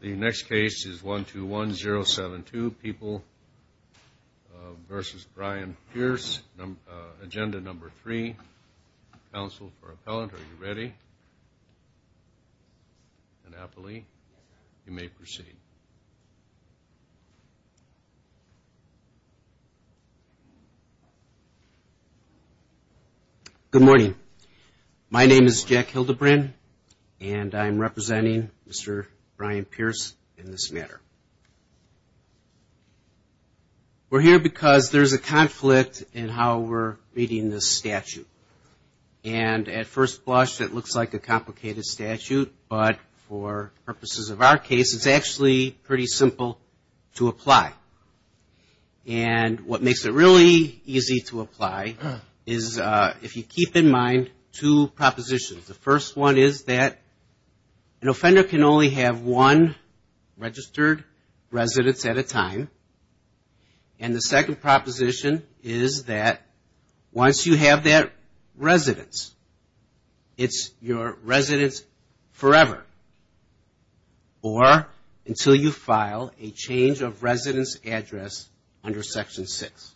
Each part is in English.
The next case is 121072, People v. Brian Pearse, Agenda No. 3, Council for Appellant. Are you ready? And happily, you may proceed. Good morning. My name is Jack Hildebrand, and I'm representing Mr. Brian Pearse in this matter. We're here because there's a conflict in how we're reading this statute. And at first blush, it looks like a complicated statute, but for purposes of our case, it's actually pretty simple to apply. And what makes it really easy to apply is if you keep in mind two propositions. The first one is that an offender can only have one registered residence at a time. And the second proposition is that once you have that residence, it's your residence forever, or until you file a change of residence address under Section 6.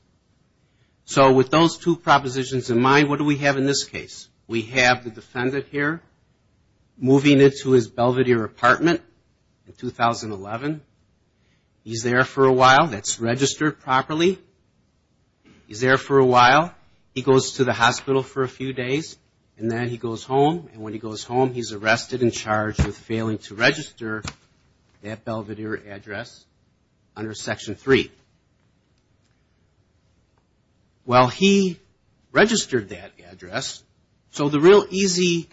So with those two propositions in mind, what do we have in this case? We have the defendant here moving into his Belvedere apartment in 2011. He's there for a while. That's registered properly. He's there for a while. He goes to the hospital for a few days, and then he goes home. And when he goes home, he's arrested and charged with failing to register that Belvedere address under Section 3. Well, he registered that address, so the real easy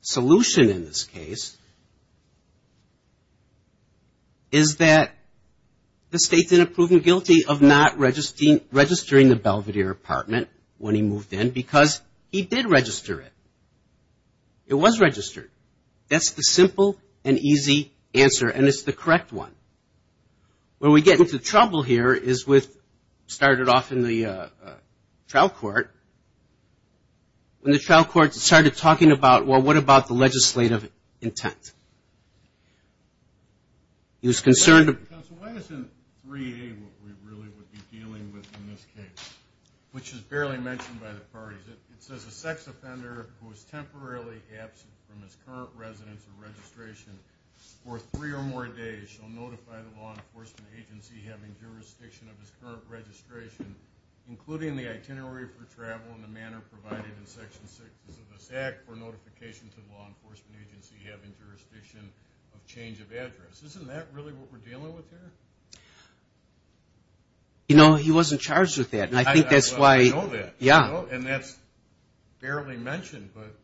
solution in this case is that the state's in a proven guilty of not registering the Belvedere apartment when he moved in because he did register it. It was registered. That's the simple and easy answer, and it's the correct one. Where we get into trouble here is with, started off in the trial court, when the trial court started talking about, well, what about the legislative intent? He was concerned... by the law enforcement agency having jurisdiction of his current registration, including the itinerary for travel and the manner provided in Section 6 of this Act for notification to the law enforcement agency having jurisdiction of change of address. Isn't that really what we're dealing with here? You know, he wasn't charged with that, and I think that's why... I know that, and that's barely mentioned, but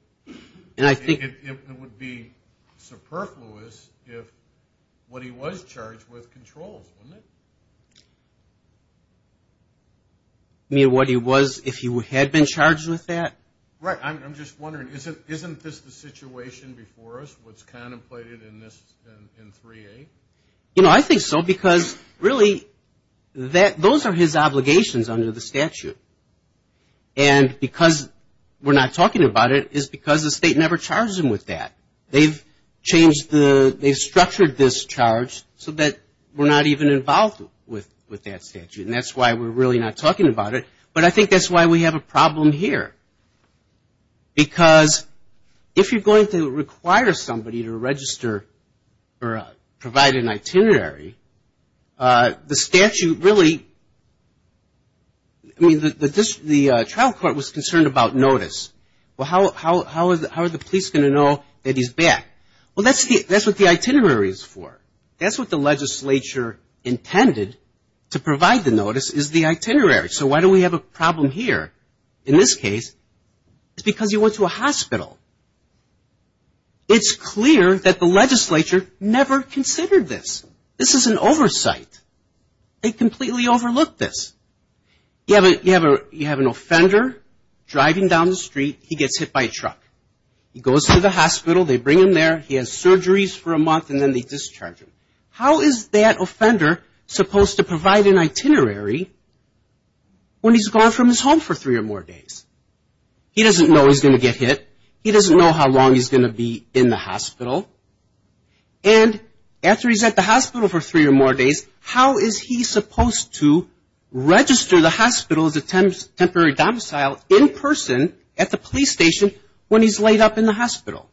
it would be superfluous if what he was charged with controls, wouldn't it? You mean what he was, if he had been charged with that? Right. I'm just wondering, isn't this the situation before us, what's contemplated in this, in 3A? You know, I think so, because really, those are his obligations under the statute. And because we're not talking about it is because the state never charged him with that. They've structured this charge so that we're not even involved with that statute, and that's why we're really not talking about it. But I think that's why we have a problem here. Because if you're going to require somebody to register or provide an itinerary, the statute really... I mean, the trial court was concerned about notice. Well, how are the police going to know that he's back? Well, that's what the itinerary is for. That's what the legislature intended, to provide the notice, is the itinerary. So why do we have a problem here? In this case, it's because he went to a hospital. It's clear that the legislature never considered this. This is an oversight. They completely overlooked this. You have an offender driving down the street. He gets hit by a truck. He goes to the hospital. They bring him there. He has surgeries for a month, and then they discharge him. How is that offender supposed to provide an itinerary when he's gone from his home for three or more days? He doesn't know he's going to get hit. He doesn't know how long he's going to be in the hospital. And after he's at the hospital for three or more days, how is he supposed to register the hospital as a temporary domicile in person at the police station when he's laid up in the hospital?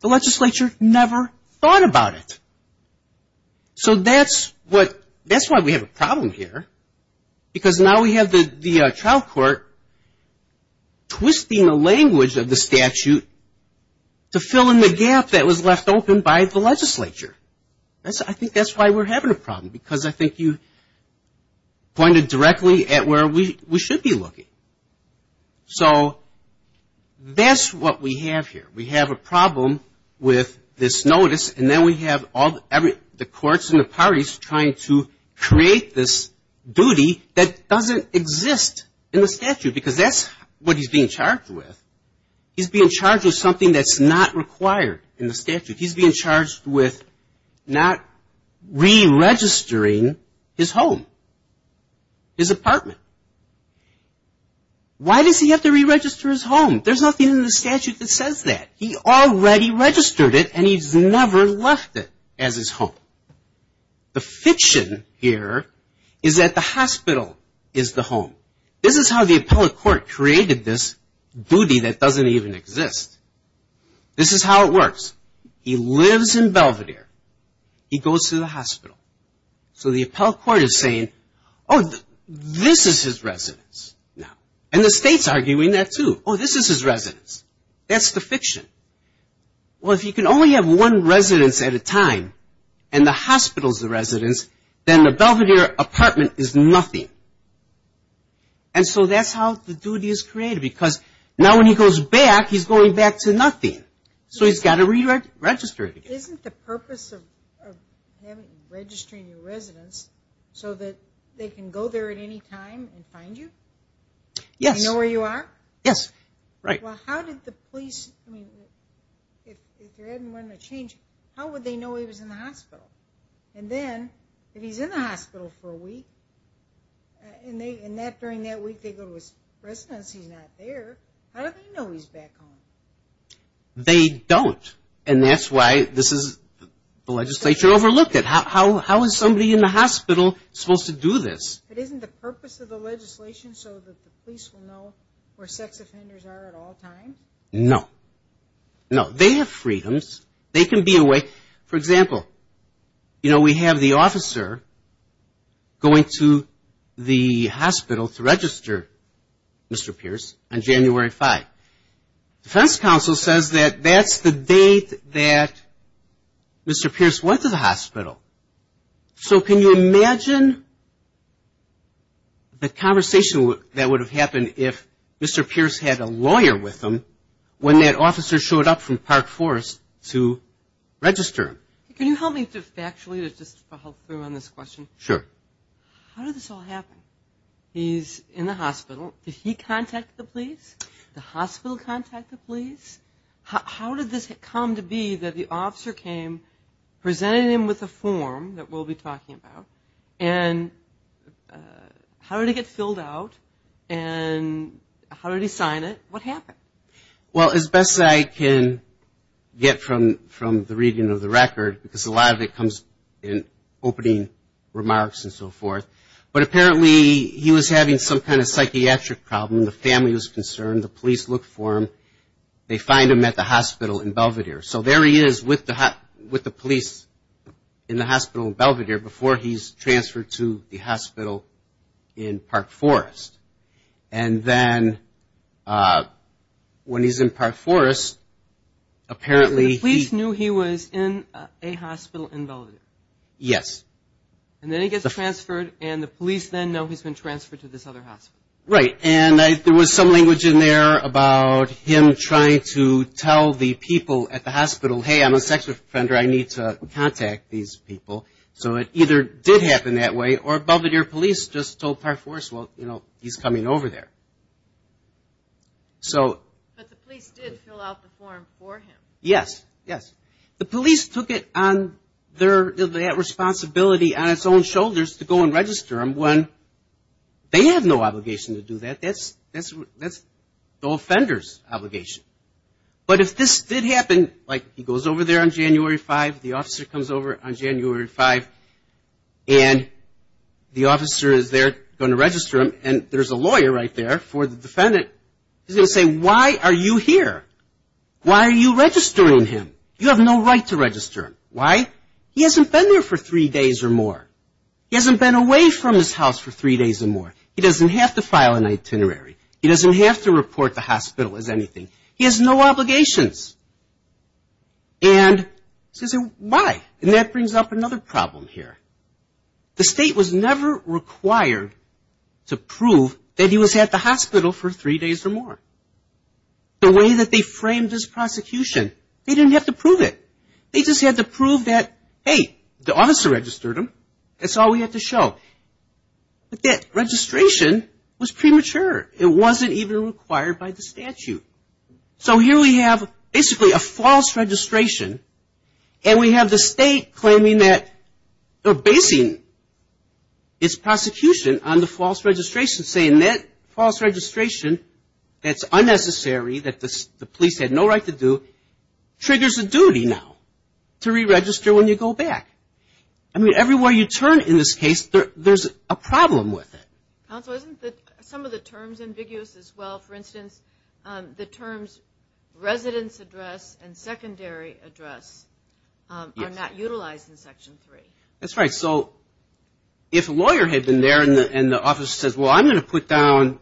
The legislature never thought about it. So that's why we have a problem here, because now we have the trial court twisting the language of the statute to fill in the gap that was left open by the legislature. I think that's why we're having a problem, because I think you pointed directly at where we should be looking. So that's what we have here. We have a problem with this notice, and then we have all the courts and the parties trying to create this duty that doesn't exist in the statute, because that's what he's being charged with. He's being charged with something that's not required in the statute. He's being charged with not re-registering his home, his apartment. There's nothing in the statute that says that. He already registered it, and he's never left it as his home. The fiction here is that the hospital is the home. This is how the appellate court created this duty that doesn't even exist. This is how it works. He lives in Belvedere. He goes to the hospital. So the appellate court is saying, oh, this is his residence now. And the state's arguing that, too. Oh, this is his residence. That's the fiction. Well, if you can only have one residence at a time, and the hospital's the residence, then the Belvedere apartment is nothing. And so that's how the duty is created, because now when he goes back, he's going back to nothing. So he's got to re-register it again. Isn't the purpose of registering your residence so that they can go there at any time and find you? Yes. Do they know where you are? Yes. Right. Well, how did the police, I mean, if there hadn't been a change, how would they know he was in the hospital? And then if he's in the hospital for a week, and during that week they go to his residence, he's not there, how do they know he's back home? They don't. And that's why this is the legislation overlooked. How is somebody in the hospital supposed to do this? But isn't the purpose of the legislation so that the police will know where sex offenders are at all times? No. No. They have freedoms. They can be away. For example, you know, we have the officer going to the hospital to register Mr. Pierce on January 5th. Defense counsel says that that's the date that Mr. Pierce went to the hospital. So can you imagine the conversation that would have happened if Mr. Pierce had a lawyer with him when that officer showed up from Park Forest to register him? Can you help me factually to just follow through on this question? Sure. How did this all happen? He's in the hospital. Did he contact the police? Did the hospital contact the police? How did this come to be that the officer came, presented him with a form that we'll be talking about, and how did he get filled out and how did he sign it? What happened? Well, as best as I can get from the reading of the record, because a lot of it comes in opening remarks and so forth, but apparently he was having some kind of psychiatric problem. The family was concerned. The police looked for him. They find him at the hospital in Belvedere. So there he is with the police in the hospital in Belvedere before he's transferred to the hospital in Park Forest. And then when he's in Park Forest, apparently he – So the police knew he was in a hospital in Belvedere? Yes. And then he gets transferred and the police then know he's been transferred to this other hospital? Right. And there was some language in there about him trying to tell the people at the hospital, hey, I'm a sex offender, I need to contact these people. So it either did happen that way or Belvedere police just told Park Forest, well, you know, he's coming over there. But the police did fill out the form for him? Yes, yes. The police took it on their responsibility on its own shoulders to go and register him when they have no obligation to do that. That's the offender's obligation. But if this did happen, like he goes over there on January 5th, the officer comes over on January 5th, and the officer is there going to register him, and there's a lawyer right there for the defendant, he's going to say, why are you here? Why are you registering him? You have no right to register him. Why? He hasn't been there for three days or more. He hasn't been away from his house for three days or more. He doesn't have to file an itinerary. He doesn't have to report to the hospital as anything. He has no obligations. And he says, why? And that brings up another problem here. The state was never required to prove that he was at the hospital for three days or more. The way that they framed his prosecution, they didn't have to prove it. They just had to prove that, hey, the officer registered him. That's all we had to show. But that registration was premature. It wasn't even required by the statute. So here we have basically a false registration, and we have the state claiming that, or basing its prosecution on the false registration, saying that false registration that's unnecessary, that the police had no right to do, triggers a duty now to re-register when you go back. I mean, everywhere you turn in this case, there's a problem with it. Counsel, isn't some of the terms ambiguous as well? For instance, the terms residence address and secondary address are not utilized in Section 3. That's right. So if a lawyer had been there and the officer says, well, I'm going to put down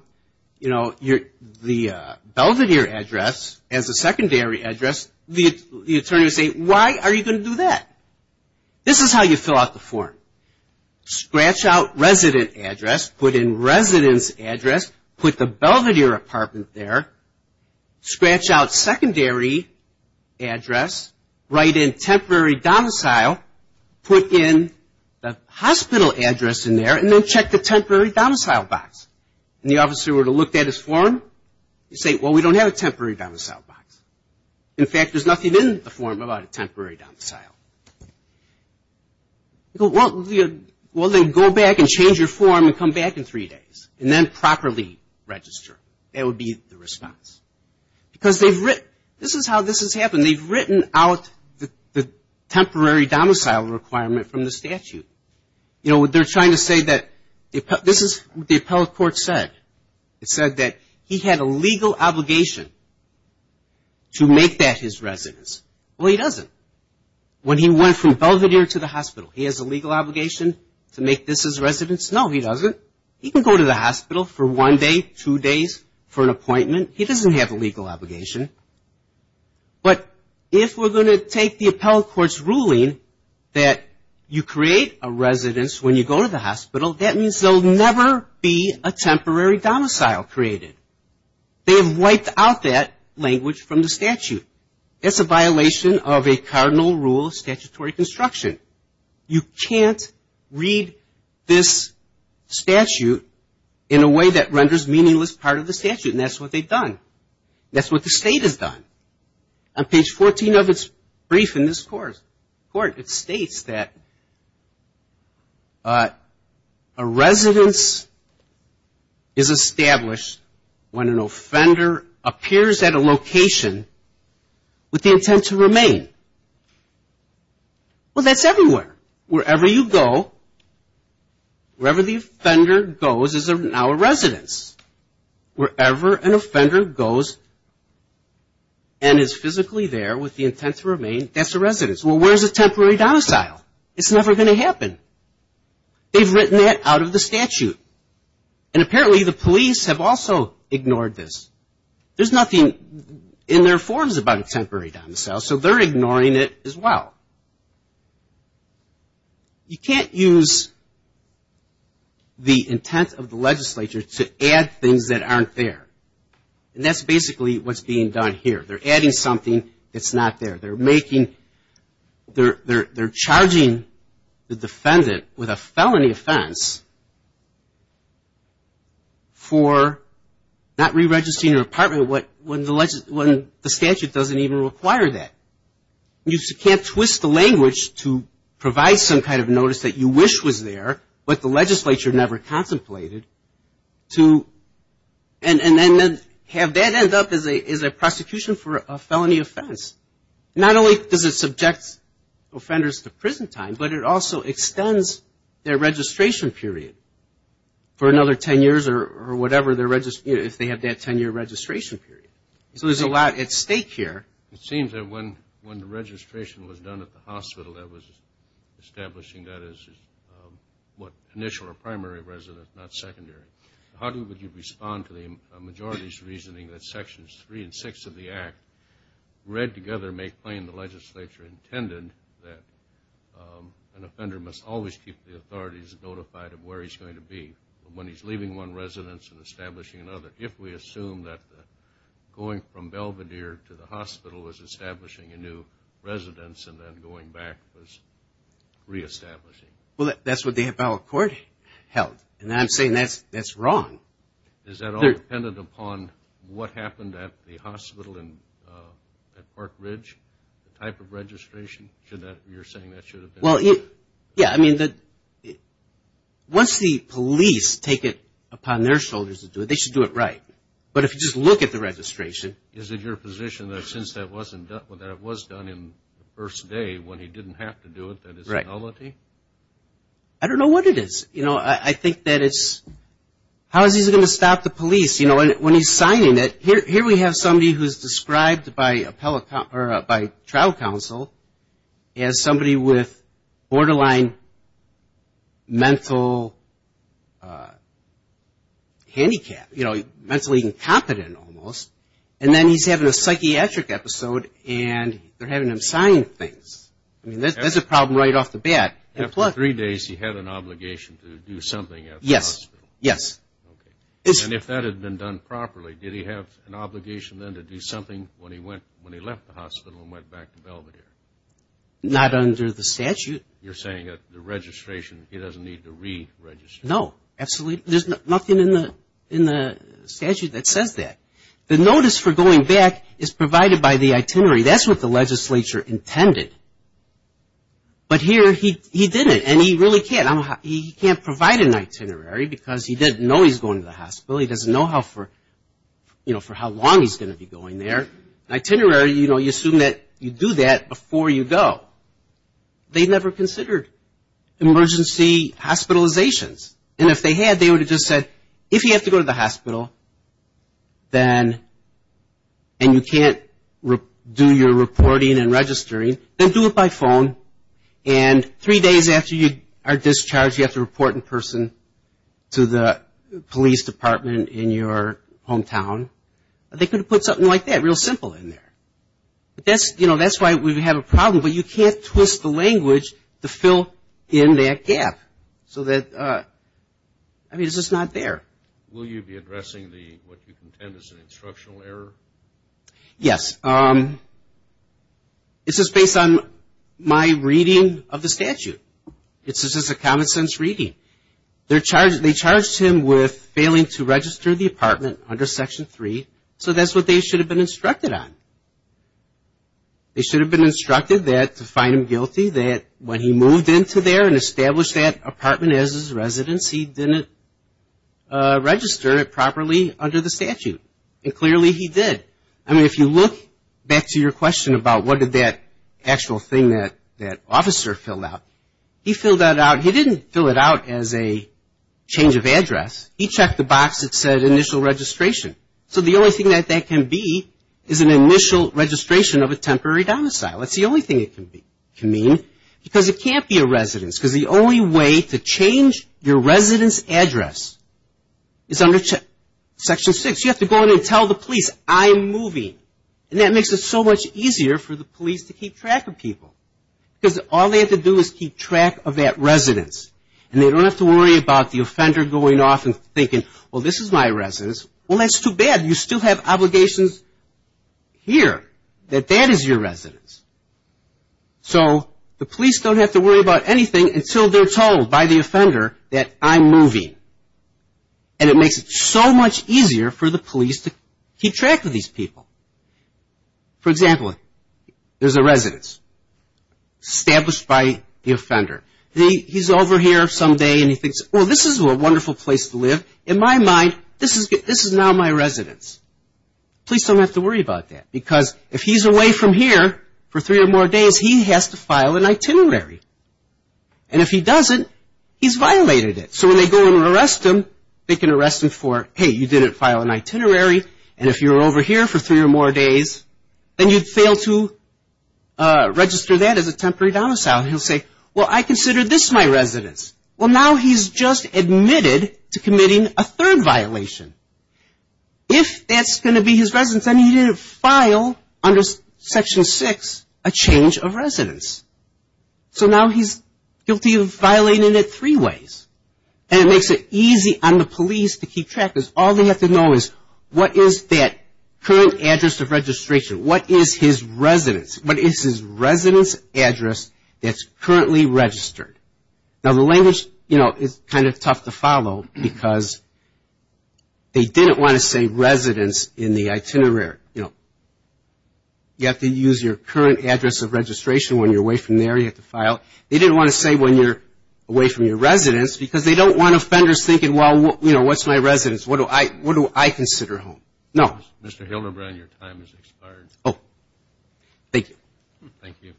the Belvedere address as a secondary address, the attorney would say, why are you going to do that? This is how you fill out the form. Scratch out resident address. Put in residence address. Put the Belvedere apartment there. Scratch out secondary address. Write in temporary domicile. Put in the hospital address in there, and then check the temporary domicile box. And the officer would have looked at his form. He'd say, well, we don't have a temporary domicile box. In fact, there's nothing in the form about a temporary domicile. Well, then go back and change your form and come back in three days. And then properly register. That would be the response. Because this is how this has happened. They've written out the temporary domicile requirement from the statute. You know, they're trying to say that this is what the appellate court said. It said that he had a legal obligation to make that his residence. Well, he doesn't. When he went from Belvedere to the hospital, he has a legal obligation to make this his residence? No, he doesn't. He can go to the hospital for one day, two days, for an appointment. He doesn't have a legal obligation. But if we're going to take the appellate court's ruling that you create a residence when you go to the hospital, that means there will never be a temporary domicile created. They have wiped out that language from the statute. That's a violation of a cardinal rule of statutory construction. You can't read this statute in a way that renders meaningless part of the statute. And that's what they've done. That's what the state has done. On page 14 of its brief in this court, it states that a residence is established when an offender appears at a location with the intent to remain. Well, that's everywhere. Wherever you go, wherever the offender goes is now a residence. Wherever an offender goes and is physically there with the intent to remain, that's a residence. Well, where's a temporary domicile? It's never going to happen. They've written that out of the statute. And apparently the police have also ignored this. There's nothing in their forms about a temporary domicile, so they're ignoring it as well. You can't use the intent of the legislature to add things that aren't there. And that's basically what's being done here. They're adding something that's not there. They're charging the defendant with a felony offense for not re-registering their apartment when the statute doesn't even require that. You can't twist the language to provide some kind of notice that you wish was there, but the legislature never contemplated, and then have that end up as a prosecution for a felony offense. Not only does it subject offenders to prison time, but it also extends their registration period for another 10 years or whatever if they have that 10-year registration period. So there's a lot at stake here. It seems that when the registration was done at the hospital that was establishing that as initial or primary residence, not secondary, how would you respond to the majority's reasoning that Sections 3 and 6 of the Act, read together, make plain, the legislature intended that an offender must always keep the authorities notified of where he's going to be when he's leaving one residence and establishing another. If we assume that going from Belvedere to the hospital was establishing a new residence and then going back was re-establishing. Well, that's what the appellate court held, and I'm saying that's wrong. Is that all dependent upon what happened at the hospital at Park Ridge, the type of registration? You're saying that should have been? Well, yeah. I mean, once the police take it upon their shoulders to do it, they should do it right. But if you just look at the registration. Is it your position that since that was done in the first day when he didn't have to do it, that it's a felony? I don't know what it is. I think that it's, how is he going to stop the police when he's signing it? Here we have somebody who's described by trial counsel as somebody with borderline mental handicap, you know, mentally incompetent almost. And then he's having a psychiatric episode, and they're having him sign things. I mean, that's a problem right off the bat. After three days, he had an obligation to do something at the hospital? Yes, yes. Okay. And if that had been done properly, did he have an obligation then to do something when he left the hospital and went back to Belvedere? Not under the statute. You're saying that the registration, he doesn't need to re-register? No, absolutely. There's nothing in the statute that says that. The notice for going back is provided by the itinerary. That's what the legislature intended. But here he didn't, and he really can't. He can't provide an itinerary because he didn't know he was going to the hospital. He doesn't know how for, you know, for how long he's going to be going there. An itinerary, you know, you assume that you do that before you go. They never considered emergency hospitalizations. And if they had, they would have just said, if you have to go to the hospital, and you can't do your reporting and registering, then do it by phone. And three days after you are discharged, you have to report in person to the police department in your hometown. They could have put something like that real simple in there. But that's, you know, that's why we have a problem. But you can't twist the language to fill in that gap so that, I mean, it's just not there. Will you be addressing what you contend is an instructional error? Yes. It's just based on my reading of the statute. It's just a common sense reading. They charged him with failing to register the apartment under Section 3, so that's what they should have been instructed on. They should have been instructed that, to find him guilty, that when he moved into there and established that apartment as his residence, he didn't register it properly under the statute. And clearly he did. I mean, if you look back to your question about what did that actual thing that officer filled out, he filled that out. He didn't fill it out as a change of address. He checked the box that said initial registration. So the only thing that that can be is an initial registration of a temporary domicile. That's the only thing it can mean, because it can't be a residence, because the only way to change your residence address is under Section 6. So you have to go in and tell the police, I'm moving. And that makes it so much easier for the police to keep track of people, because all they have to do is keep track of that residence. And they don't have to worry about the offender going off and thinking, well, this is my residence. Well, that's too bad. You still have obligations here that that is your residence. So the police don't have to worry about anything until they're told by the offender that I'm moving. And it makes it so much easier for the police to keep track of these people. For example, there's a residence established by the offender. He's over here some day and he thinks, well, this is a wonderful place to live. In my mind, this is now my residence. Police don't have to worry about that, because if he's away from here for three or more days, he has to file an itinerary. And if he doesn't, he's violated it. So when they go and arrest him, they can arrest him for, hey, you didn't file an itinerary, and if you were over here for three or more days, then you'd fail to register that as a temporary domicile. And he'll say, well, I consider this my residence. Well, now he's just admitted to committing a third violation. If that's going to be his residence, then he didn't file under Section 6 a change of residence. So now he's guilty of violating it three ways. And it makes it easy on the police to keep track, because all they have to know is, what is that current address of registration? What is his residence? What is his residence address that's currently registered? Now, the language, you know, is kind of tough to follow, because they didn't want to say residence in the itinerary. You know, you have to use your current address of registration. When you're away from there, you have to file. They didn't want to say when you're away from your residence, because they don't want offenders thinking, well, you know, what's my residence? What do I consider home? No. Mr. Hildebrand, your time has expired. Oh, thank you. Thank you.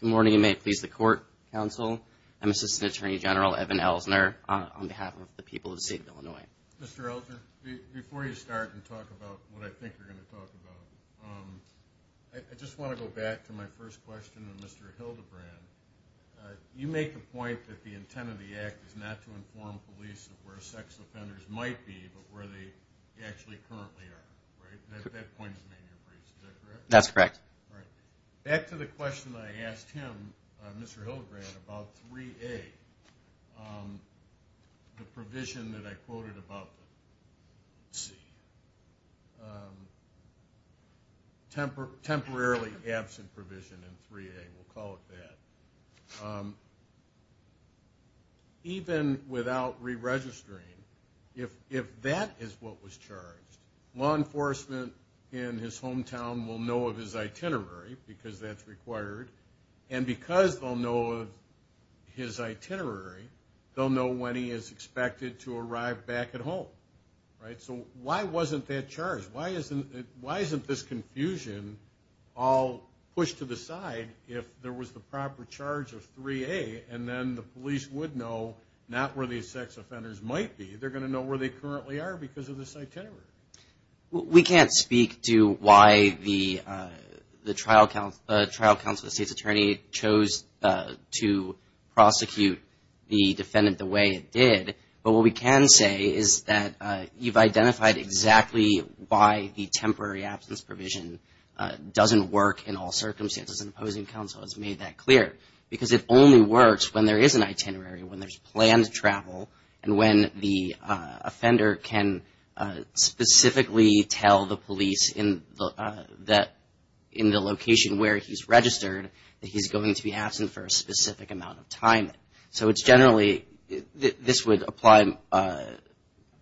Good morning, and may it please the Court, Counsel. I'm Assistant Attorney General Evan Elsner, on behalf of the people of the state of Illinois. Mr. Elsner, before you start and talk about what I think you're going to talk about, I just want to go back to my first question with Mr. Hildebrand. You make the point that the intent of the Act is not to inform police of where sex offenders might be, but where they actually currently are, right? That point is made in your briefs, is that correct? That's correct. All right. Back to the question I asked him, Mr. Hildebrand, about 3A, the provision that I quoted above, temporarily absent provision in 3A, we'll call it that. Even without re-registering, if that is what was charged, law enforcement in his hometown will know of his itinerary because that's required, and because they'll know of his itinerary, they'll know when he is expected to arrive back at home, right? So why wasn't that charged? Why isn't this confusion all pushed to the side if there was the proper charge of 3A, and then the police would know not where these sex offenders might be? They're going to know where they currently are because of this itinerary. We can't speak to why the trial counsel, the state's attorney, chose to prosecute the defendant the way it did, but what we can say is that you've identified exactly why the temporary absence provision doesn't work in all circumstances, and opposing counsel has made that clear, because it only works when there is an itinerary, when there's planned travel, and when the offender can specifically tell the police in the location where he's registered that he's going to be absent for a specific amount of time. So it's generally, this would apply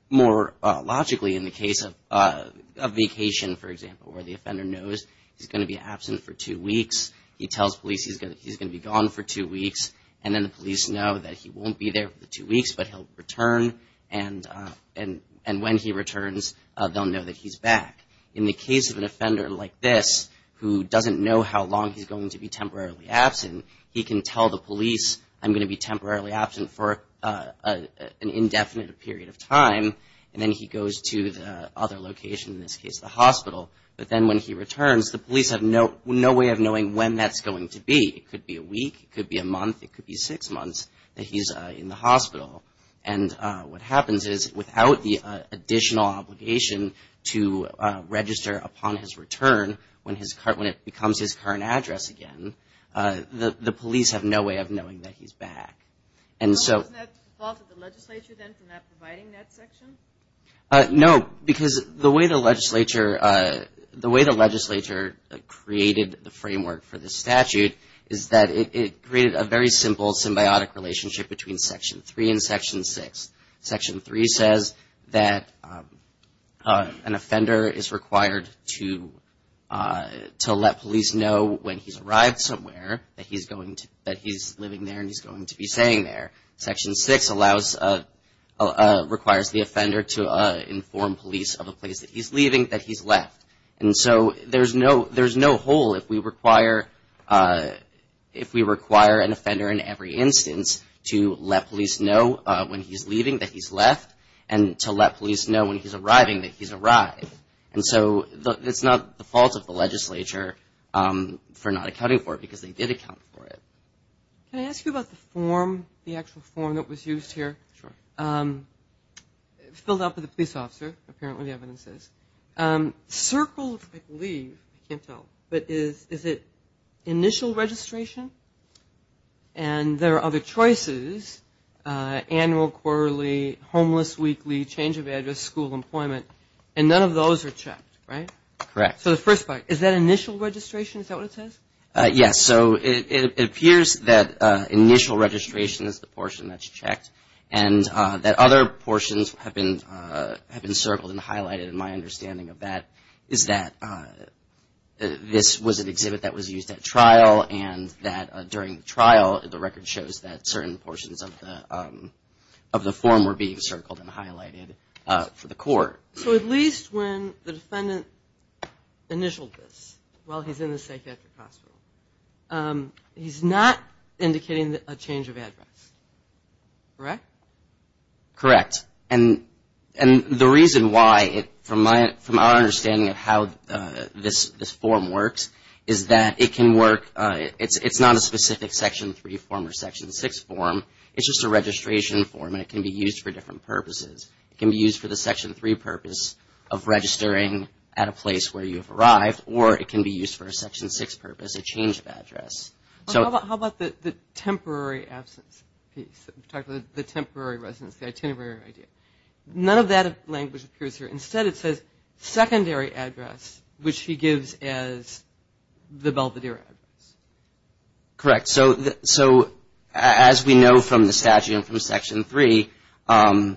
more logically in the case of vacation, for example, where the offender knows he's going to be absent for two weeks. He tells police he's going to be gone for two weeks, and then the police know that he won't be there for two weeks, but he'll return, and when he returns, they'll know that he's back. In the case of an offender like this, who doesn't know how long he's going to be temporarily absent, he can tell the police, I'm going to be temporarily absent for an indefinite period of time, and then he goes to the other location, in this case the hospital, but then when he returns, the police have no way of knowing when that's going to be. It could be a week, it could be a month, it could be six months that he's in the hospital, and what happens is, without the additional obligation to register upon his return, when it becomes his current address again, the police have no way of knowing that he's back. So isn't that the fault of the legislature, then, for not providing that section? No, because the way the legislature created the framework for this statute is that it created a very simple symbiotic relationship between Section 3 and Section 6. Section 3 says that an offender is required to let police know when he's arrived somewhere that he's living there and he's going to be staying there. Section 6 requires the offender to inform police of the place that he's leaving, that he's left. And so there's no hole if we require an offender in every instance to let police know when he's leaving that he's left and to let police know when he's arriving that he's arrived. And so it's not the fault of the legislature for not accounting for it, because they did account for it. Can I ask you about the form, the actual form that was used here? Sure. Filled out by the police officer, apparently the evidence says. Circled, I believe, I can't tell, but is it initial registration? And there are other choices, annual, quarterly, homeless, weekly, change of address, school, employment, and none of those are checked, right? Correct. So the first part, is that initial registration, is that what it says? Yes. So it appears that initial registration is the portion that's checked and that other portions have been circled and highlighted. And my understanding of that is that this was an exhibit that was used at trial and that during the trial the record shows that certain portions of the form were being circled and highlighted for the court. So at least when the defendant initialed this, while he's in the psychiatric hospital, he's not indicating a change of address, correct? Correct. And the reason why, from my understanding of how this form works, is that it can work, it's not a specific Section 3 form or Section 6 form, it's just a registration form and it can be used for different purposes. It can be used for the Section 3 purpose of registering at a place where you've arrived, or it can be used for a Section 6 purpose, a change of address. How about the temporary absence piece, the temporary residence, the itinerary idea? None of that language appears here. Instead it says secondary address, which he gives as the Belvedere address. Correct. So as we know from the statute and from Section 3, an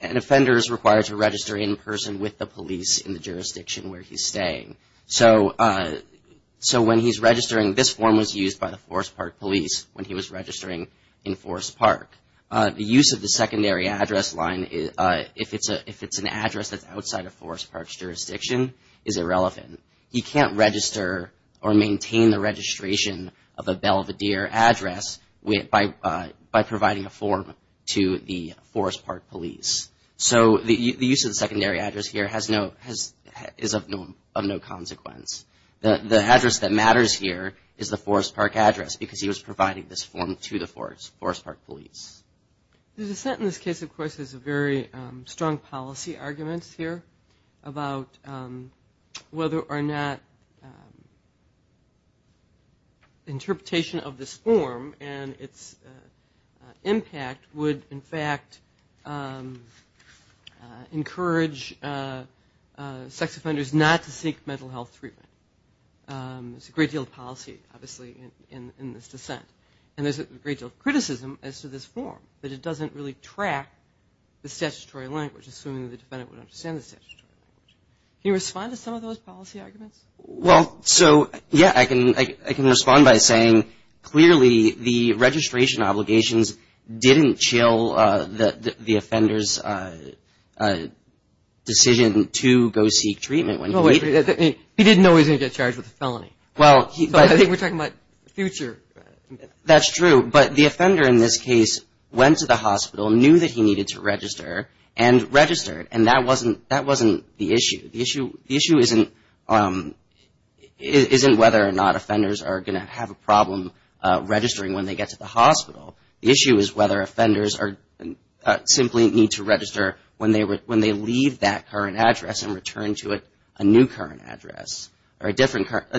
offender is required to register in person with the police in the jurisdiction where he's staying. So when he's registering, this form was used by the Forest Park Police when he was registering in Forest Park. The use of the secondary address line, if it's an address that's outside of Forest Park's jurisdiction, is irrelevant. He can't register or maintain the registration of a Belvedere address by providing a form to the Forest Park Police. So the use of the secondary address here is of no consequence. The address that matters here is the Forest Park address because he was providing this form to the Forest Park Police. The dissent in this case, of course, has very strong policy arguments here about whether or not interpretation of this form and its impact would, in fact, encourage sex offenders not to seek mental health treatment. There's a great deal of policy, obviously, in this dissent. And there's a great deal of criticism as to this form, that it doesn't really track the statutory language, assuming the defendant would understand the statutory language. Can you respond to some of those policy arguments? Well, so, yeah, I can respond by saying, clearly, the registration obligations didn't chill the offender's decision to go seek treatment. He didn't know he was going to get charged with a felony. Well, I think we're talking about the future. That's true. But the offender in this case went to the hospital, knew that he needed to register, and registered. And that wasn't the issue. The issue isn't whether or not offenders are going to have a problem registering when they get to the hospital. The issue is whether offenders simply need to register when they leave that current address and return to it a new current address or a current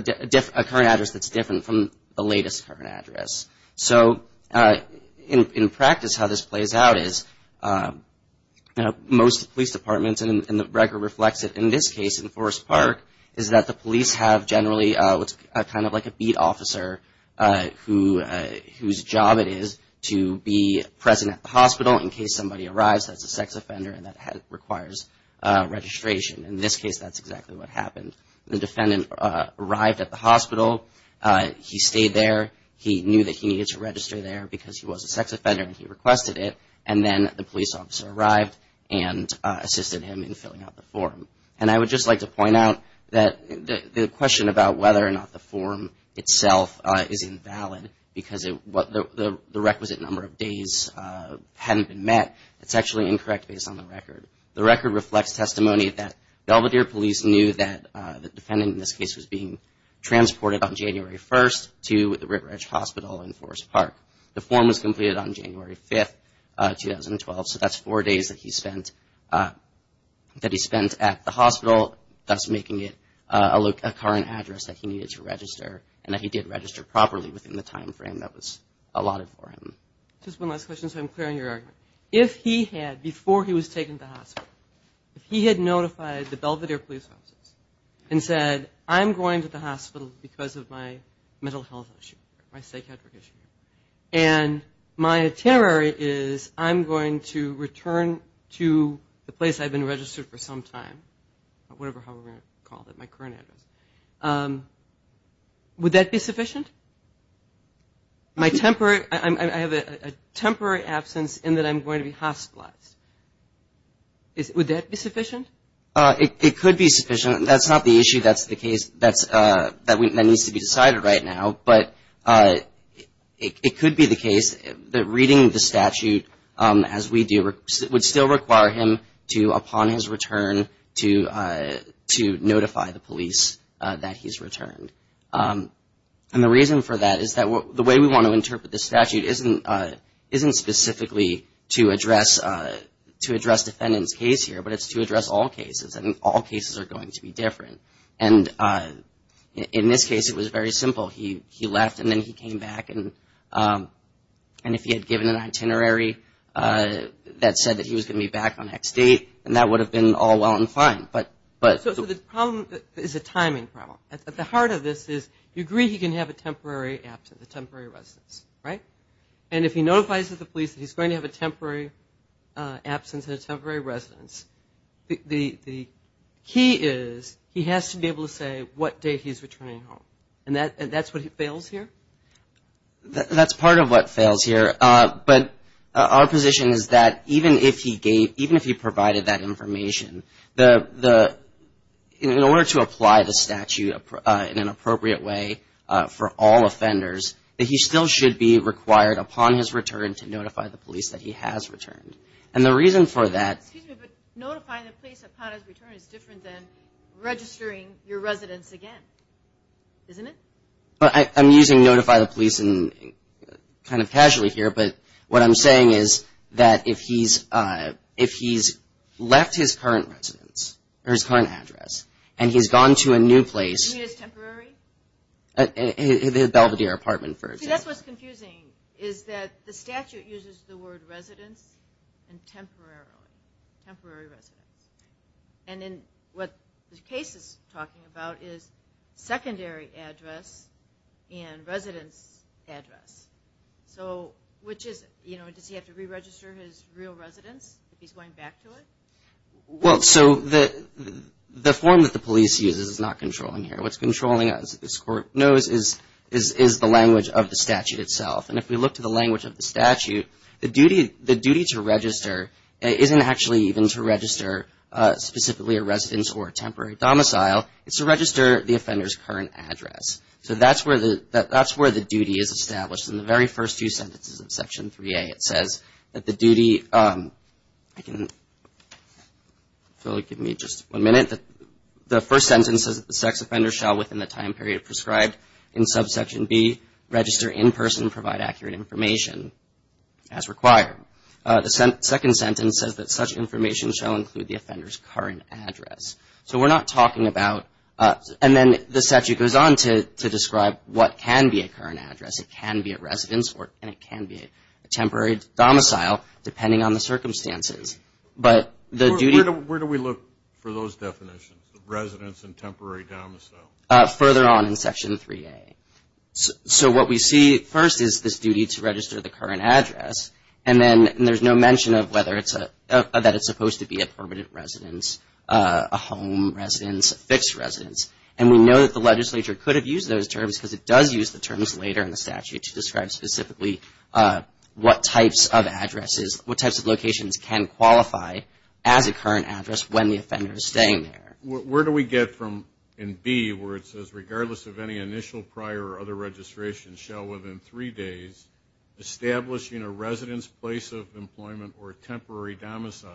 address that's different from the latest current address. So, in practice, how this plays out is most police departments, and the record reflects it in this case in Forest Park, is that the police have generally what's kind of like a beat officer whose job it is to be present at the hospital in case somebody arrives that's a sex offender and that requires registration. In this case, that's exactly what happened. The defendant arrived at the hospital. He stayed there. He knew that he needed to register there because he was a sex offender, and he requested it. And then the police officer arrived and assisted him in filling out the form. And I would just like to point out that the question about whether or not the form itself is invalid because the requisite number of days hadn't been met, it's actually incorrect based on the record. The record reflects testimony that Belvedere Police knew that the defendant, in this case, was being transported on January 1st to the Rittredge Hospital in Forest Park. The form was completed on January 5th, 2012, so that's four days that he spent at the hospital, thus making it a current address that he needed to register, and that he did register properly within the time frame that was allotted for him. Just one last question so I'm clear on your argument. If he had, before he was taken to the hospital, if he had notified the Belvedere Police officers and said, I'm going to the hospital because of my mental health issue, my psychiatric issue, and my itinerary is I'm going to return to the place I've been registered for some time, whatever, however you want to call it, my current address, would that be sufficient? I have a temporary absence in that I'm going to be hospitalized. Would that be sufficient? It could be sufficient. That's not the issue that's the case that needs to be decided right now. But it could be the case that reading the statute as we do would still require him to, upon his return, to notify the police that he's returned. And the reason for that is that the way we want to interpret the statute isn't specifically to address defendant's case here, but it's to address all cases, and all cases are going to be different. And in this case it was very simple. He left and then he came back. And if he had given an itinerary that said that he was going to be back on X date, then that would have been all well and fine. So the problem is a timing problem. At the heart of this is you agree he can have a temporary absence, a temporary residence, right? And if he notifies the police that he's going to have a temporary absence and a temporary residence, the key is he has to be able to say what date he's returning home. And that's what fails here? That's part of what fails here. But our position is that even if he provided that information, in order to apply the statute in an appropriate way for all offenders, that he still should be required upon his return to notify the police that he has returned. And the reason for that. Excuse me, but notify the police upon his return is different than registering your residence again, isn't it? I'm using notify the police kind of casually here, but what I'm saying is that if he's left his current residence or his current address and he's gone to a new place. You mean his temporary? His Belvedere apartment, for example. See, that's what's confusing is that the statute uses the word residence and temporarily. Temporary residence. And then what the case is talking about is secondary address and residence address. So which is, you know, does he have to re-register his real residence if he's going back to it? Well, so the form that the police uses is not controlling here. What's controlling, as this Court knows, is the language of the statute itself. And if we look to the language of the statute, the duty to register isn't actually even to register specifically a residence or a temporary domicile. It's to register the offender's current address. So that's where the duty is established. In the very first two sentences of Section 3A, it says that the duty, if you'll give me just one minute, the first sentence says that the sex offender shall within the time period prescribed in Subsection B register in person and provide accurate information as required. The second sentence says that such information shall include the offender's current address. So we're not talking about, and then the statute goes on to describe what can be a current address. It can be a residence, and it can be a temporary domicile, depending on the circumstances. Where do we look for those definitions, residence and temporary domicile? Further on in Section 3A. So what we see first is this duty to register the current address, and then there's no mention that it's supposed to be a permanent residence, a home residence, a fixed residence. And we know that the legislature could have used those terms because it does use the terms later in the statute to describe specifically what types of addresses, what types of locations can qualify as a current address when the offender is staying there. Where do we get from in B where it says, regardless of any initial prior or other registration shall within three days, establishing a residence, place of employment, or temporary domicile?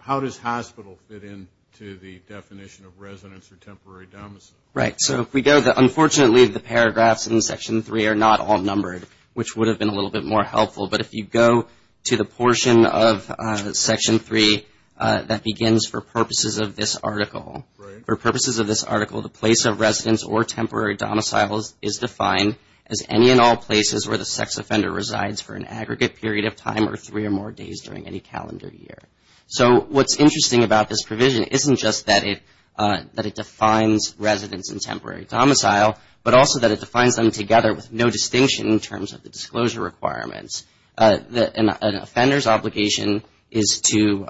How does hospital fit into the definition of residence or temporary domicile? Right. So if we go, unfortunately the paragraphs in Section 3 are not all numbered, which would have been a little bit more helpful. But if you go to the portion of Section 3 that begins for purposes of this article. For purposes of this article, the place of residence or temporary domicile is defined as any and all places where the sex offender resides for an aggregate period of time or three or more days during any calendar year. So what's interesting about this provision isn't just that it defines residence and temporary domicile, but also that it defines them together with no distinction in terms of the disclosure requirements. An offender's obligation is to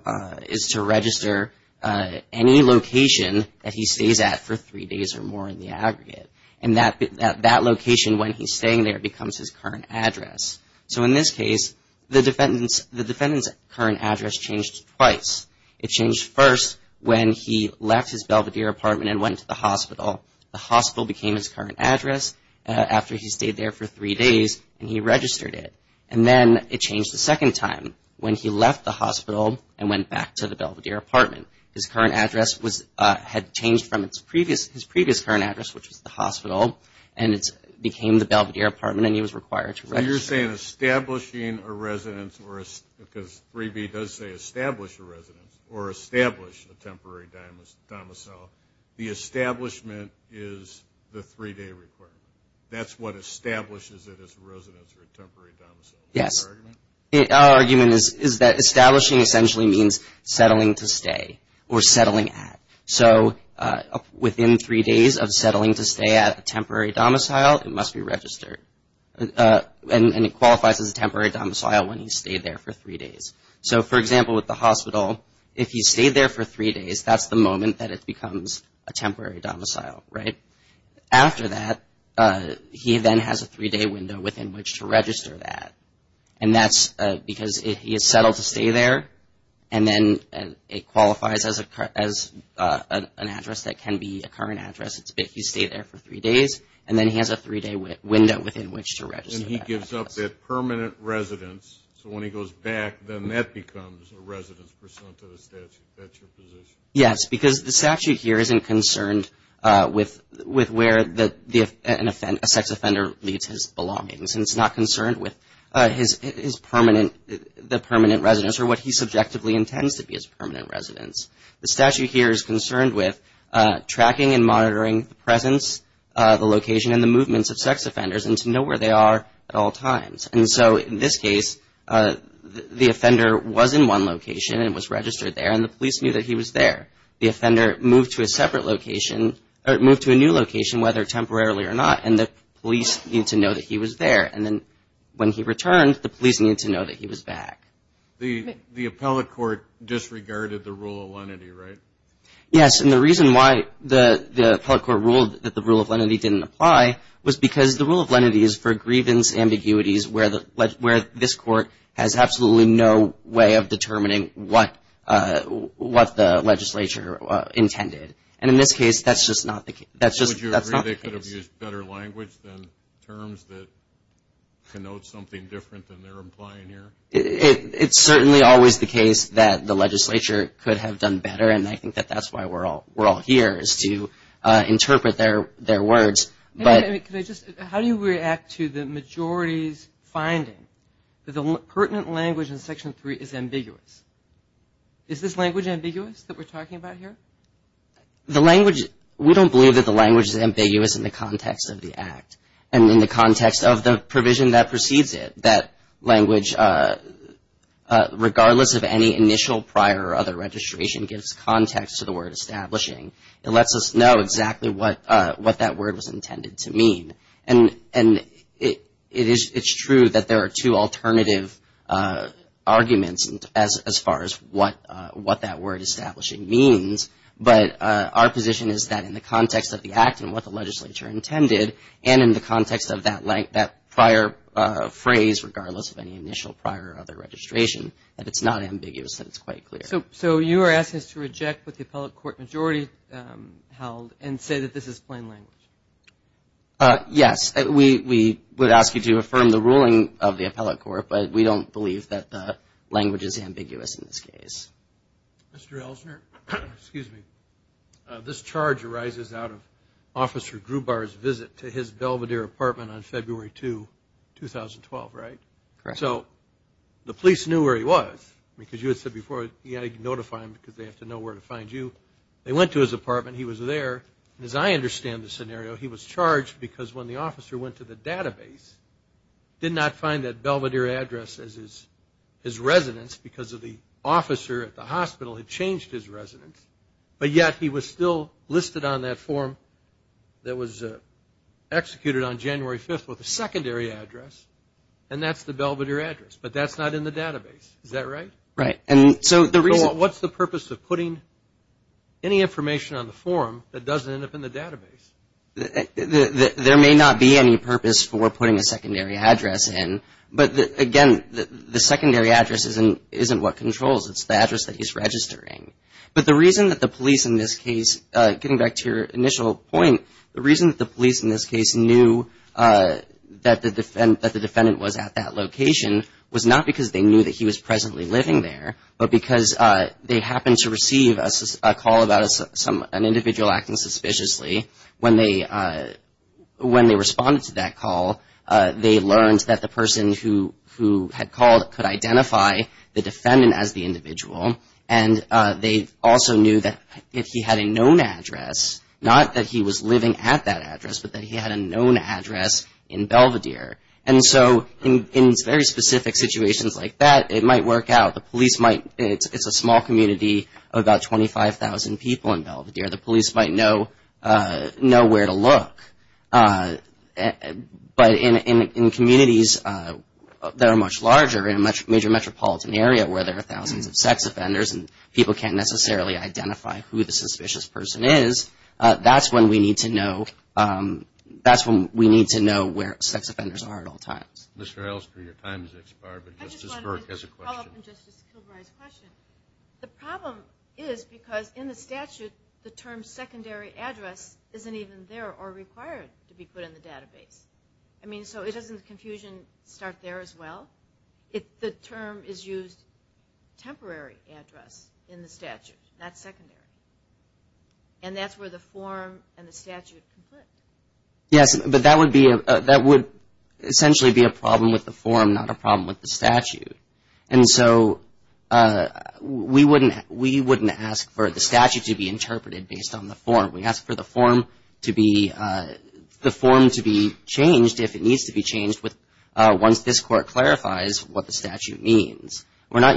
register any location that he stays at for three days or more in the aggregate. And that location when he's staying there becomes his current address. So in this case, the defendant's current address changed twice. It changed first when he left his Belvedere apartment and went to the hospital. The hospital became his current address after he stayed there for three days and he registered it. And then it changed a second time when he left the hospital and went back to the Belvedere apartment. His current address had changed from his previous current address, which was the hospital, and it became the Belvedere apartment and he was required to register. So you're saying establishing a residence, because 3B does say establish a residence, or establish a temporary domicile, the establishment is the three-day requirement. That's what establishes it as a residence or a temporary domicile. Yes. Is that your argument? Our argument is that establishing essentially means settling to stay or settling at. So within three days of settling to stay at a temporary domicile, it must be registered. And it qualifies as a temporary domicile when he's stayed there for three days. So, for example, with the hospital, if he's stayed there for three days, that's the moment that it becomes a temporary domicile, right? After that, he then has a three-day window within which to register that. And that's because if he has settled to stay there and then it qualifies as an address that can be a current address, it's if he's stayed there for three days, and then he has a three-day window within which to register. So when he gives up that permanent residence, so when he goes back, then that becomes a residence pursuant to the statute. That's your position? Yes, because the statute here isn't concerned with where a sex offender leaves his belongings, and it's not concerned with the permanent residence or what he subjectively intends to be his permanent residence. The statute here is concerned with tracking and monitoring the presence, the location, and the movements of sex offenders and to know where they are at all times. And so in this case, the offender was in one location and was registered there, and the police knew that he was there. The offender moved to a separate location or moved to a new location, whether temporarily or not, and the police needed to know that he was there. And then when he returned, the police needed to know that he was back. The appellate court disregarded the rule of lenity, right? Yes, and the reason why the appellate court ruled that the rule of lenity didn't apply was because the rule of lenity is for grievance ambiguities where this court has absolutely no way of determining what the legislature intended. And in this case, that's just not the case. Would you agree they could have used better language than terms that connote something different than they're implying here? It's certainly always the case that the legislature could have done better, and I think that that's why we're all here is to interpret their words. How do you react to the majority's finding that the pertinent language in Section 3 is ambiguous? Is this language ambiguous that we're talking about here? We don't believe that the language is ambiguous in the context of the act and in the context of the provision that precedes it, that language, regardless of any initial prior or other registration, gives context to the word establishing. It lets us know exactly what that word was intended to mean. And it's true that there are two alternative arguments as far as what that word establishing means, but our position is that in the context of the act and what the legislature intended, and in the context of that prior phrase, regardless of any initial prior or other registration, that it's not ambiguous and it's quite clear. So you are asking us to reject what the appellate court majority held and say that this is plain language? Yes. We would ask you to affirm the ruling of the appellate court, but we don't believe that the language is ambiguous in this case. Mr. Elsner, this charge arises out of Officer Grubar's visit to his Belvedere apartment on February 2, 2012, right? Correct. So the police knew where he was because you had said before you had to notify them because they have to know where to find you. They went to his apartment. He was there. And as I understand the scenario, he was charged because when the officer went to the database, did not find that Belvedere address as his residence because the officer at the hospital had changed his residence, but yet he was still listed on that form that was executed on January 5th with a secondary address, and that's the Belvedere address, but that's not in the database. Is that right? Right. So what's the purpose of putting any information on the form that doesn't end up in the database? There may not be any purpose for putting a secondary address in, but again, the secondary address isn't what controls. It's the address that he's registering. But the reason that the police in this case, getting back to your initial point, the reason that the police in this case knew that the defendant was at that location was not because they knew that he was presently living there, but because they happened to receive a call about an individual acting suspiciously. When they responded to that call, they learned that the person who had called could identify the defendant as the individual, and they also knew that if he had a known address, not that he was living at that address, but that he had a known address in Belvedere. And so in very specific situations like that, it might work out. It's a small community of about 25,000 people in Belvedere. The police might know where to look. But in communities that are much larger, in a major metropolitan area where there are thousands of sex offenders and people can't necessarily identify who the suspicious person is, that's when we need to know where sex offenders are at all times. Mr. Elster, your time has expired, but Justice Burke has a question. I just wanted to follow up on Justice Kilbride's question. The problem is because in the statute, the term secondary address isn't even there or required to be put in the database. I mean, so it doesn't confusion start there as well. The term is used temporary address in the statute, not secondary. And that's where the form and the statute conflict. Yes, but that would essentially be a problem with the form, not a problem with the statute. And so we wouldn't ask for the statute to be interpreted based on the form. We ask for the form to be changed if it needs to be changed once this Court clarifies what the statute means. We're not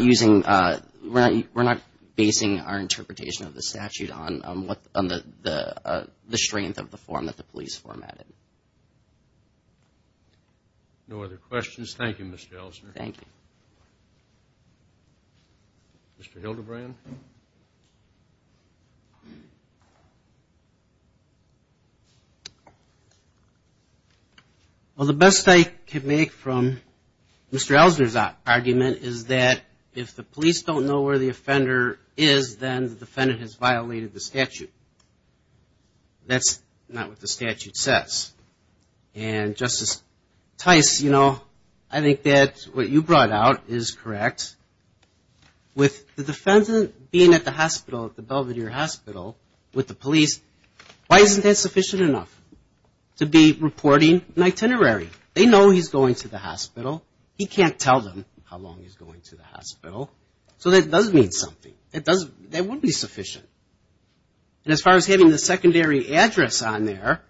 basing our interpretation of the statute on the strength of the form that the police form added. No other questions. Thank you, Mr. Elster. Thank you. Mr. Hildebrand. Well, the best I can make from Mr. Elster's argument is that if the police don't know where the offender is, then the defendant has violated the statute. That's not what the statute says. And Justice Tice, you know, I think that what you brought out is correct. With the defendant being at the hospital, at the Belvedere Hospital with the police, why isn't that sufficient enough to be reporting an itinerary? They know he's going to the hospital. He can't tell them how long he's going to the hospital. So that does mean something. That would be sufficient. And as far as having the secondary address on there,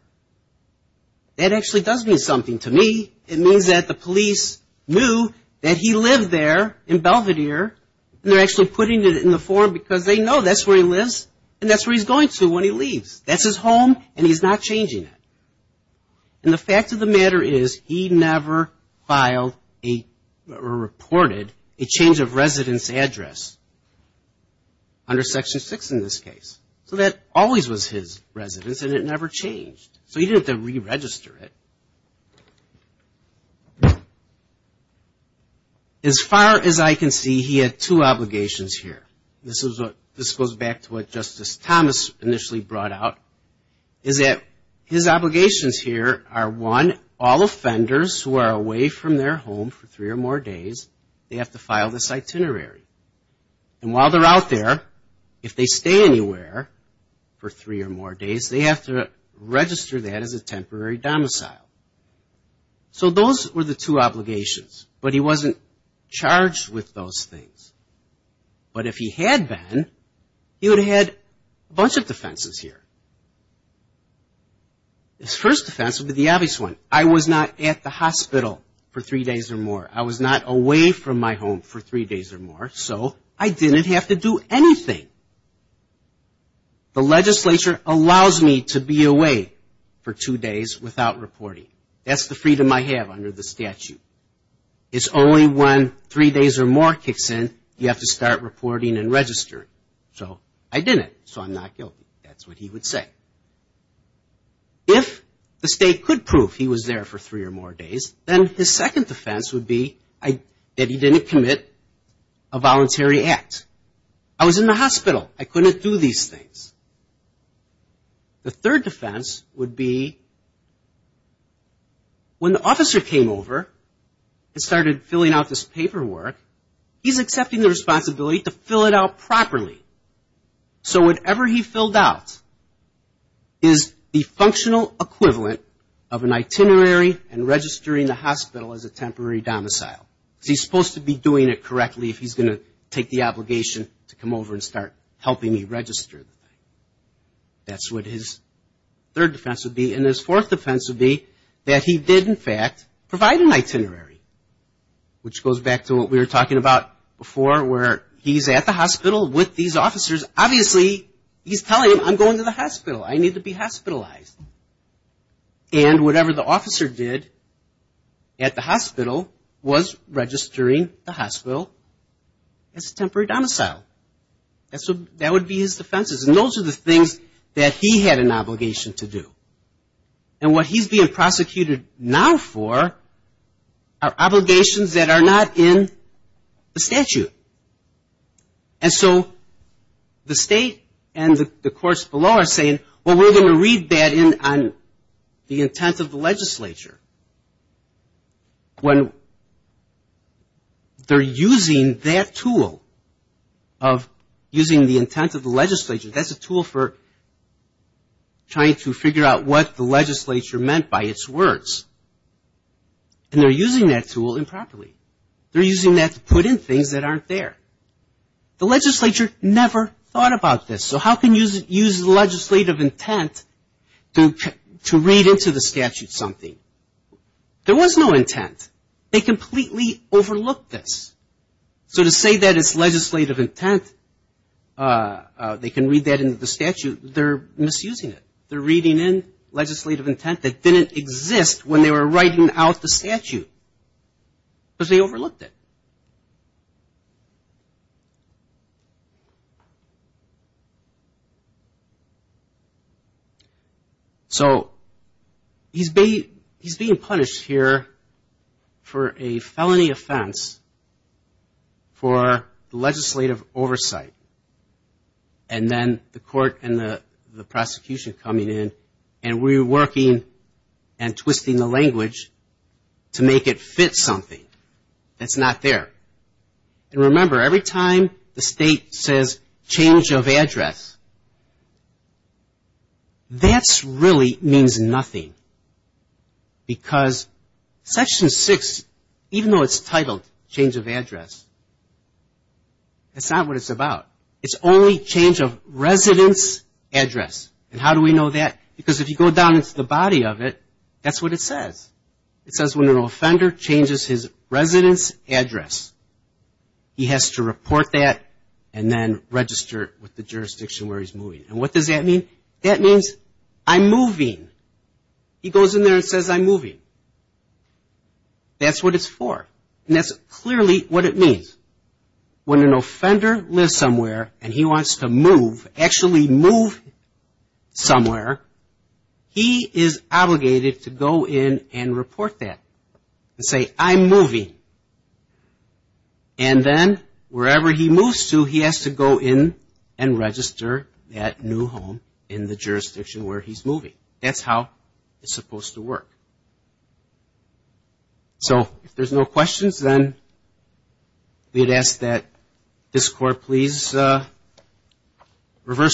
that actually does mean something to me. It means that the police knew that he lived there in Belvedere, and they're actually putting it in the form because they know that's where he lives and that's where he's going to when he leaves. That's his home, and he's not changing it. And the fact of the matter is he never filed or reported a change of residence address under Section 6 in this case. So that always was his residence, and it never changed. So he didn't have to re-register it. As far as I can see, he had two obligations here. This goes back to what Justice Thomas initially brought out, is that his obligations here are, one, all offenders who are away from their home for three or more days, they have to file this itinerary. And while they're out there, if they stay anywhere for three or more days, they have to register that as a temporary domicile. So those were the two obligations, but he wasn't charged with those things. But if he had been, he would have had a bunch of defenses here. His first defense would be the obvious one. I was not at the hospital for three days or more. I was not away from my home for three days or more, so I didn't have to do anything. The legislature allows me to be away for two days without reporting. That's the freedom I have under the statute. It's only when three days or more kicks in, you have to start reporting and registering. So I didn't, so I'm not guilty. That's what he would say. If the state could prove he was there for three or more days, then his second defense would be that he didn't commit a voluntary act. I was in the hospital. I couldn't do these things. The third defense would be when the officer came over and started filling out this paperwork, he's accepting the responsibility to fill it out properly. So whatever he filled out is the functional equivalent of an itinerary and registering the hospital as a temporary domicile. He's supposed to be doing it correctly if he's going to take the obligation to come over and start helping me register. That's what his third defense would be. And his fourth defense would be that he did, in fact, provide an itinerary, which goes back to what we were talking about before, where he's at the hospital with these officers. Obviously, he's telling them, I'm going to the hospital. I need to be hospitalized. And whatever the officer did at the hospital was registering the hospital as a temporary domicile. That would be his defenses. And those are the things that he had an obligation to do. And what he's being prosecuted now for are obligations that are not in the statute. And so the state and the courts below are saying, well, we're going to read that in on the intent of the legislature. When they're using that tool of using the intent of the legislature, that's a tool for trying to figure out what the legislature meant by its words. And they're using that tool improperly. They're using that to put in things that aren't there. The legislature never thought about this. So how can you use legislative intent to read into the statute something? There was no intent. They completely overlooked this. So to say that it's legislative intent, they can read that into the statute, they're misusing it. They're reading in legislative intent that didn't exist when they were writing out the statute. Because they overlooked it. So he's being punished here for a felony offense for legislative oversight. And then the court and the prosecution coming in and reworking and twisting the language to make it fit something that's not there. And remember, every time the state says change of address, that really means nothing. Because Section 6, even though it's titled change of address, that's not what it's about. It's only change of residence address. And how do we know that? Because if you go down into the body of it, that's what it says. It says when an offender changes his residence address, he has to report that and then register it with the jurisdiction where he's moving. And what does that mean? That means I'm moving. He goes in there and says I'm moving. That's what it's for. And that's clearly what it means. When an offender lives somewhere and he wants to move, actually move somewhere, he is obligated to go in and report that and say I'm moving. And then wherever he moves to, he has to go in and register that new home in the jurisdiction where he's moving. That's how it's supposed to work. So if there's no questions, then we'd ask that this Court please reverse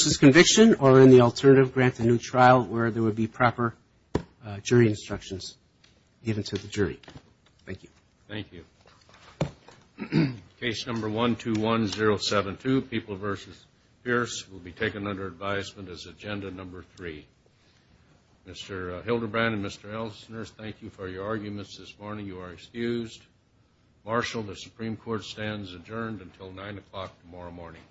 this conviction or in the alternative, grant a new trial where there would be proper jury instructions given to the jury. Thank you. Thank you. Case number 121072, People v. Pierce, will be taken under advisement as Agenda Number 3. Mr. Hildebrand and Mr. Elsner, thank you for your arguments this morning. You are excused. Marshal, the Supreme Court stands adjourned until 9 o'clock tomorrow morning.